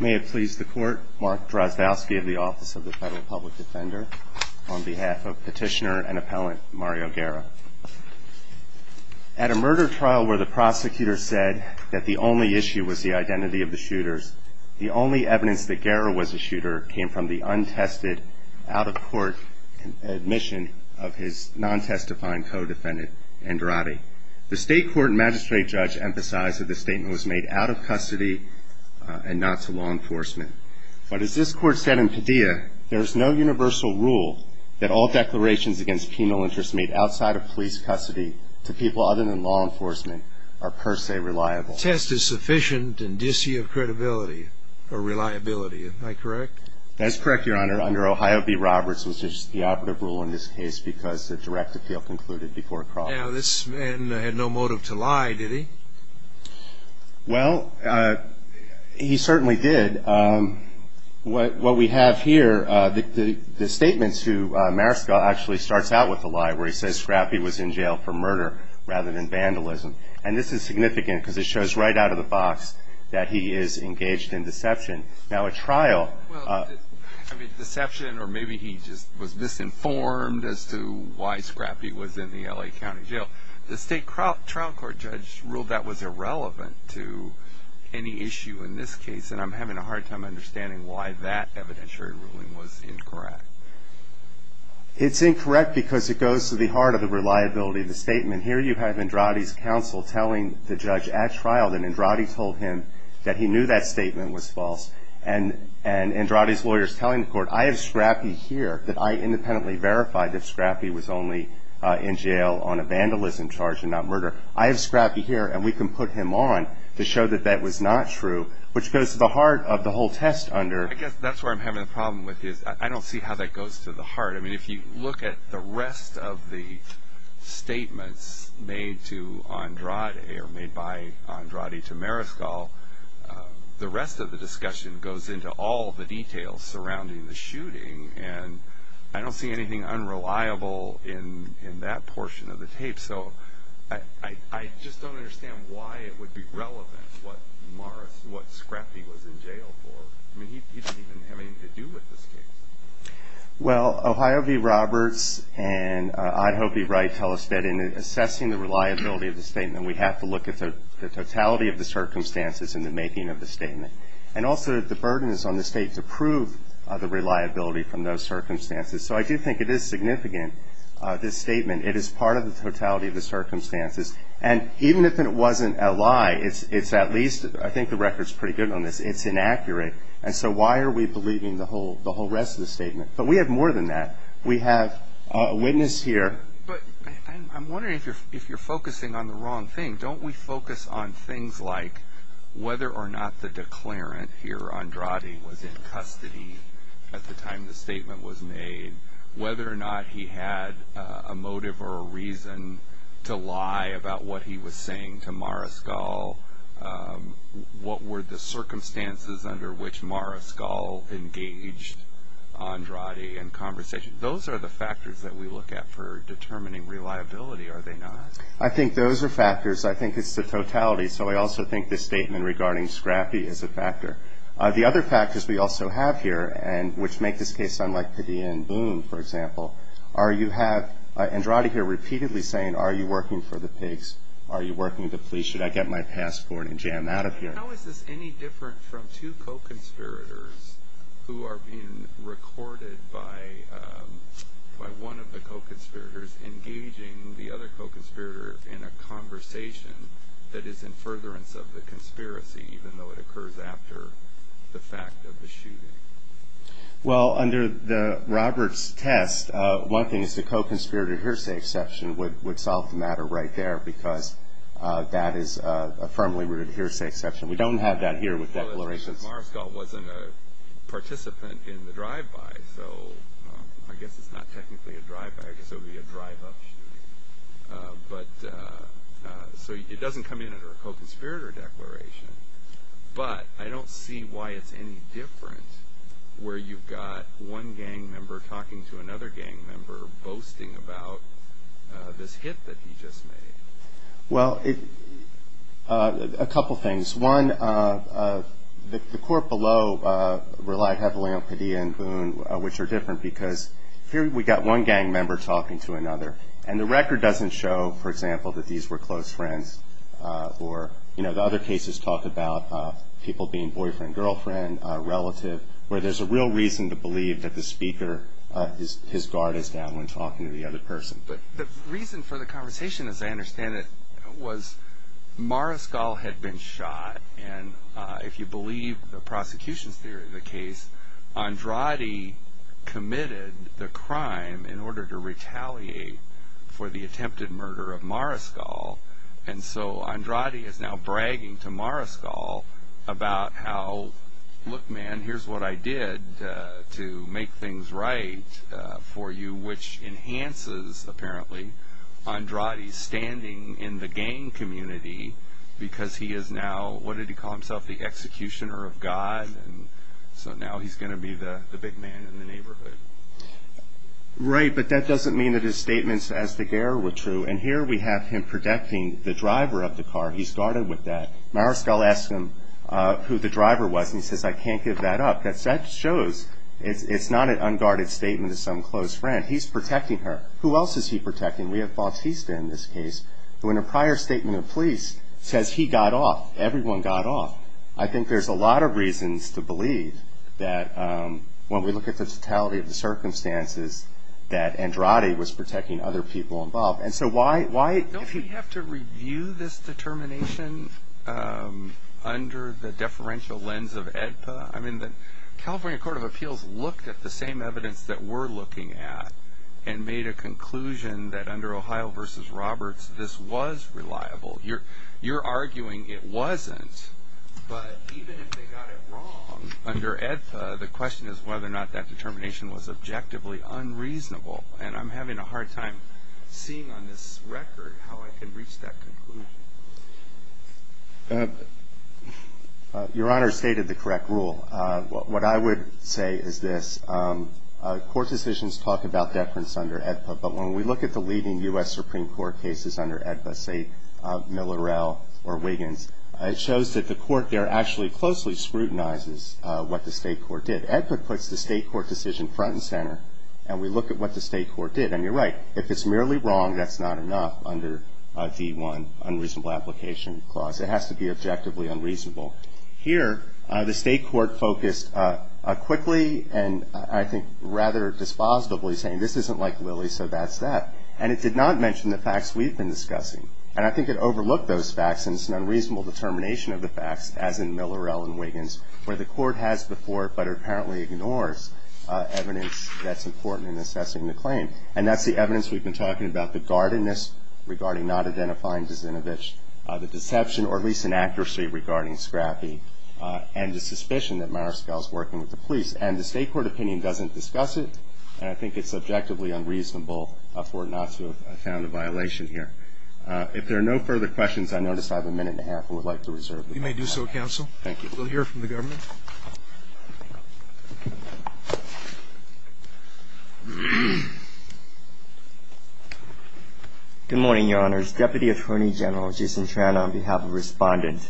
May it please the Court, Mark Drozdowski of the Office of the Federal Public Defender, on behalf of Petitioner and Appellant Mario Guerra. At a murder trial where the prosecutor said that the only issue was the identity of the shooters, the only evidence that Guerra was a shooter came from the untested, out-of-court admission of his non-testifying co-defendant, Andrade. The State Court and Magistrate Judge emphasized that this statement was made out of custody and not to law enforcement. But as this Court said in Padilla, there is no universal rule that all declarations against penal interests made outside of police custody to people other than law enforcement are per se reliable. Test is sufficient and disy of credibility or reliability. Am I correct? That is correct, Your Honor. Under Ohio v. Roberts, which is the operative rule in this case because the direct appeal concluded before a problem. Now, this man had no motive to lie, did he? Well, he certainly did. What we have here, the statements to Mariscal actually starts out with a lie where he says Scrappy was in jail for murder rather than vandalism. And this is significant because it shows right out of the box that he is engaged in deception. Now, a trial. I mean, deception or maybe he just was misinformed as to why Scrappy was in the L.A. County Jail. The State Trial Court judge ruled that was irrelevant to any issue in this case and I'm having a hard time understanding why that evidentiary ruling was incorrect. It's incorrect because it goes to the heart of the reliability of the statement. Here you have Andrade's counsel telling the judge at trial that Andrade told him that he knew that statement was false. And Andrade's lawyer is telling the court, I have Scrappy here that I independently verified that Scrappy was only in jail on a vandalism charge and not murder. I have Scrappy here and we can put him on to show that that was not true, which goes to the heart of the whole test under. I guess that's where I'm having a problem with is I don't see how that goes to the heart. I mean, if you look at the rest of the statements made to Andrade or made by Andrade to Mariscal, the rest of the discussion goes into all the details surrounding the shooting and I don't see anything unreliable in that portion of the tape. So I just don't understand why it would be relevant what Scrappy was in jail for. I mean, he didn't even have anything to do with this case. Well, Ohio v. Roberts and I hope he's right tell us that in assessing the reliability of the statement, we have to look at the totality of the circumstances in the making of the statement. And also the burden is on the state to prove the reliability from those circumstances. So I do think it is significant, this statement. It is part of the totality of the circumstances. And even if it wasn't a lie, it's at least, I think the record's pretty good on this, it's inaccurate. And so why are we believing the whole rest of the statement? But we have more than that. We have a witness here. But I'm wondering if you're focusing on the wrong thing. Don't we focus on things like whether or not the declarant here, Andrade, was in custody at the time the statement was made? Whether or not he had a motive or a reason to lie about what he was saying to Mariscal? What were the circumstances under which Mariscal engaged Andrade in conversation? Those are the factors that we look at for determining reliability, are they not? I think those are factors. I think it's the totality. So I also think the statement regarding Scrappi is a factor. The other factors we also have here, which make this case unlike Padilla and Boone, for example, are you have Andrade here repeatedly saying, are you working for the pigs? Are you working for the police? Should I get my passport and jam out of here? How is this any different from two co-conspirators who are being recorded by one of the co-conspirators engaging the other co-conspirator in a conversation that is in furtherance of the conspiracy, even though it occurs after the fact of the shooting? Well, under Robert's test, one thing is the co-conspirator hearsay exception would solve the matter right there because that is a firmly rooted hearsay exception. We don't have that here with declarations. Mariscal wasn't a participant in the drive-by, so I guess it's not technically a drive-by. I guess it would be a drive-up shooting. So it doesn't come in under a co-conspirator declaration, but I don't see why it's any different where you've got one gang member talking to another gang member boasting about this hit that he just made. Well, a couple things. One, the court below relied heavily on Padilla and Boone, which are different, because here we've got one gang member talking to another, and the record doesn't show, for example, that these were close friends. Or, you know, the other cases talk about people being boyfriend, girlfriend, relative, where there's a real reason to believe that the speaker, his guard is down when talking to the other person. But the reason for the conversation, as I understand it, was Mariscal had been shot, and if you believe the prosecution's theory of the case, Andrade committed the crime in order to retaliate for the attempted murder of Mariscal, and so Andrade is now bragging to Mariscal about how, look, man, here's what I did to make things right for you, which enhances, apparently, Andrade's standing in the gang community, because he is now, what did he call himself, the executioner of God, and so now he's going to be the big man in the neighborhood. Right, but that doesn't mean that his statements as the guerrilla were true, and here we have him protecting the driver of the car. He's guarded with that. Mariscal asks him who the driver was, and he says, I can't give that up. That shows it's not an unguarded statement of some close friend. He's protecting her. Who else is he protecting? We have Bautista in this case, who in a prior statement of police says he got off. Everyone got off. I think there's a lot of reasons to believe that when we look at the totality of the circumstances, that Andrade was protecting other people involved. Don't we have to review this determination under the deferential lens of AEDPA? I mean, the California Court of Appeals looked at the same evidence that we're looking at and made a conclusion that under Ohio v. Roberts this was reliable. You're arguing it wasn't, but even if they got it wrong under AEDPA, the question is whether or not that determination was objectively unreasonable, and I'm having a hard time seeing on this record how I can reach that conclusion. Your Honor stated the correct rule. What I would say is this. Court decisions talk about deference under AEDPA, but when we look at the leading U.S. Supreme Court cases under AEDPA, say Miller-Rell or Wiggins, it shows that the court there actually closely scrutinizes what the state court did. AEDPA puts the state court decision front and center, and we look at what the state court did. And you're right. If it's merely wrong, that's not enough under D-1, Unreasonable Application Clause. It has to be objectively unreasonable. Here the state court focused quickly and I think rather dispositively, saying this isn't like Lilly, so that's that. And it did not mention the facts we've been discussing. And I think it overlooked those facts, and it's an unreasonable determination of the facts, as in Miller-Rell and Wiggins, where the court has before it, but it apparently ignores evidence that's important in assessing the claim. And that's the evidence we've been talking about, the guardedness regarding not identifying Zinovich, the deception, or at least inaccuracy, regarding Scrappi, and the suspicion that Mariscal's working with the police. And the state court opinion doesn't discuss it, and I think it's objectively unreasonable for it not to have found a violation here. If there are no further questions, I notice I have a minute and a half. I would like to reserve it. You may do so, counsel. Thank you. We'll hear from the government. Good morning, Your Honors. Deputy Attorney General Jason Tran on behalf of Respondent.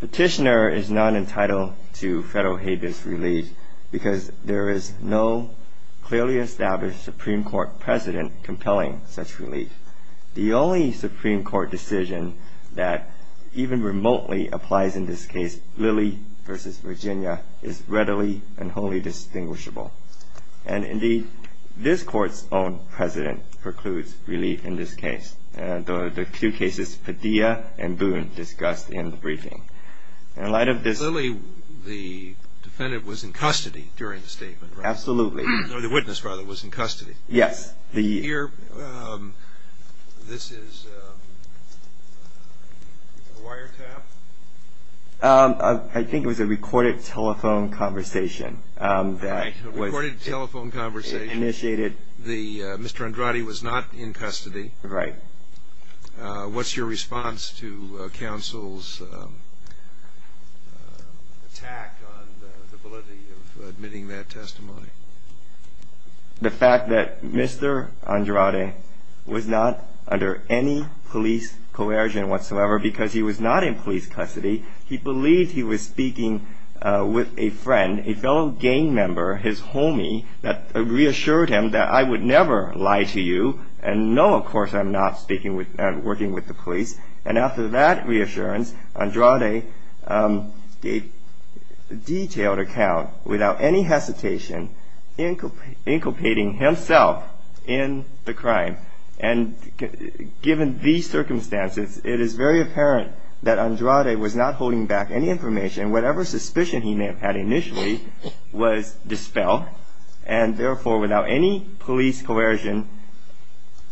Petitioner is not entitled to Federal habeas relief because there is no clearly established Supreme Court president compelling such relief. The only Supreme Court decision that even remotely applies in this case, Lilly v. Virginia, is readily and wholly distinguishable. And indeed, this Court's own president precludes relief in this case. The two cases, Padilla and Boone, discussed in the briefing. In light of this ---- Lilly, the defendant, was in custody during the statement, right? Absolutely. No, the witness, rather, was in custody. Yes. Here, this is a wiretap? I think it was a recorded telephone conversation that was initiated. A recorded telephone conversation. Mr. Andrade was not in custody. Right. What's your response to counsel's attack on the validity of admitting that testimony? The fact that Mr. Andrade was not under any police coercion whatsoever because he was not in police custody. He believed he was speaking with a friend, a fellow gang member, his homie, that reassured him that I would never lie to you. And no, of course, I'm not working with the police. And after that reassurance, Andrade gave detailed account without any hesitation, inculpating himself in the crime. And given these circumstances, it is very apparent that Andrade was not holding back any information. Whatever suspicion he may have had initially was dispelled. And therefore, without any police coercion,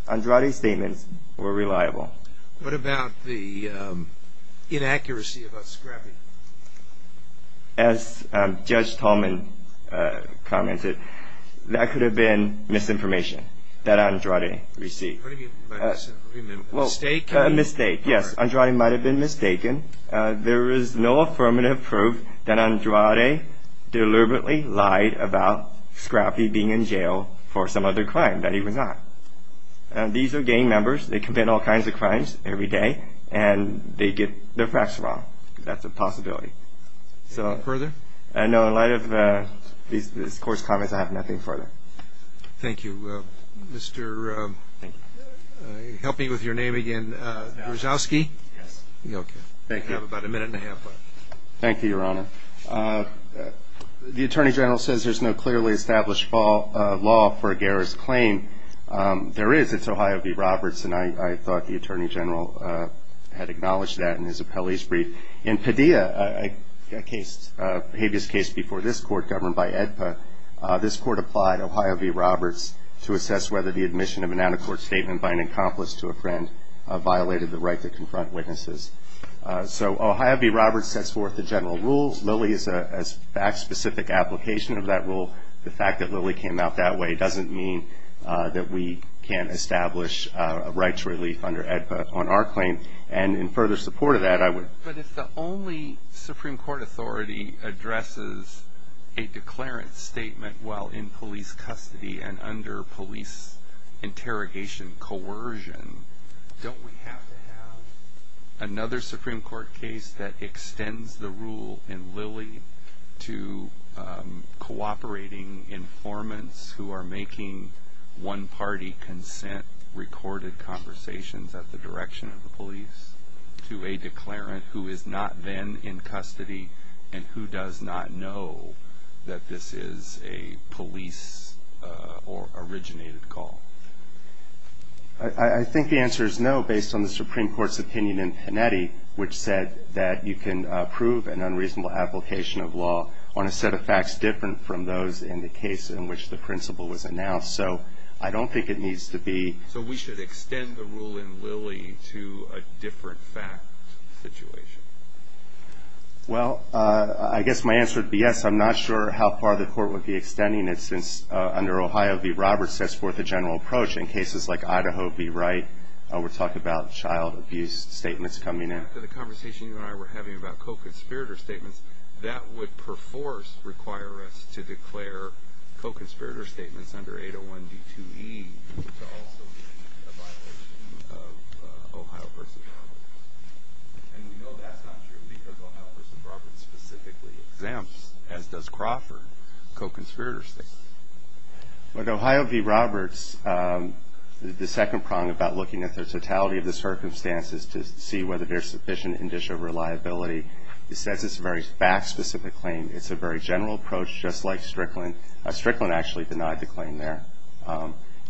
Andrade's statements were reliable. What about the inaccuracy about Scrappy? As Judge Tolman commented, that could have been misinformation that Andrade received. What do you mean by misinformation? A mistake? A mistake, yes. Andrade might have been mistaken. There is no affirmative proof that Andrade deliberately lied about Scrappy being in jail for some other crime that he was not. These are gang members. They commit all kinds of crimes every day. And they get their facts wrong. That's a possibility. Further? No, in light of these coarse comments, I have nothing further. Thank you. Mr. Help me with your name again. Grozowski? Yes. Okay. Thank you. You have about a minute and a half left. Thank you, Your Honor. The Attorney General says there's no clearly established law for a garris claim. There is. It's Ohio v. Roberts, and I thought the Attorney General had acknowledged that in his appellee's brief. In Padilla, a habeas case before this Court governed by AEDPA, this Court applied Ohio v. Roberts to assess whether the admission of an out-of-court statement by an accomplice to a friend violated the right to confront witnesses. So Ohio v. Roberts sets forth the general rules. Lilly is a fact-specific application of that rule. The fact that Lilly came out that way doesn't mean that we can't establish a right to relief under AEDPA on our claim. And in further support of that, I would But if the only Supreme Court authority addresses a declarant statement while in police custody and under police interrogation coercion, don't we have to have another Supreme Court case that extends the rule in Lilly to cooperating informants who are making one-party consent-recorded conversations at the direction of the police to a declarant who is not then in custody and who does not know that this is a police-originated call? I think the answer is no, based on the Supreme Court's opinion in Panetti, which said that you can approve an unreasonable application of law on a set of facts different from those in the case in which the principle was announced. So I don't think it needs to be So we should extend the rule in Lilly to a different fact situation? Well, I guess my answer would be yes. I'm not sure how far the Court would be extending it since under Ohio v. Roberts sets forth a general approach. In cases like Idaho v. Wright, we're talking about child abuse statements coming in. So after the conversation you and I were having about co-conspirator statements, that would perforce require us to declare co-conspirator statements under 801 D2E to also be a violation of Ohio v. Roberts. And we know that's not true because Ohio v. Roberts specifically exempts, as does Crawford, co-conspirator statements. With Ohio v. Roberts, the second prong about looking at the totality of the circumstances is to see whether there's sufficient indicia of reliability. It says it's a very fact-specific claim. It's a very general approach, just like Strickland. Strickland actually denied the claim there.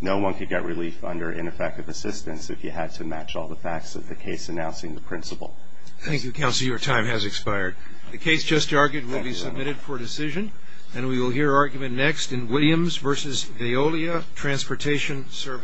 No one could get relief under ineffective assistance if you had to match all the facts of the case announcing the principle. Thank you, counsel. Your time has expired. The case just argued will be submitted for decision. And we will hear argument next in Williams v. Veolia Transportation Service.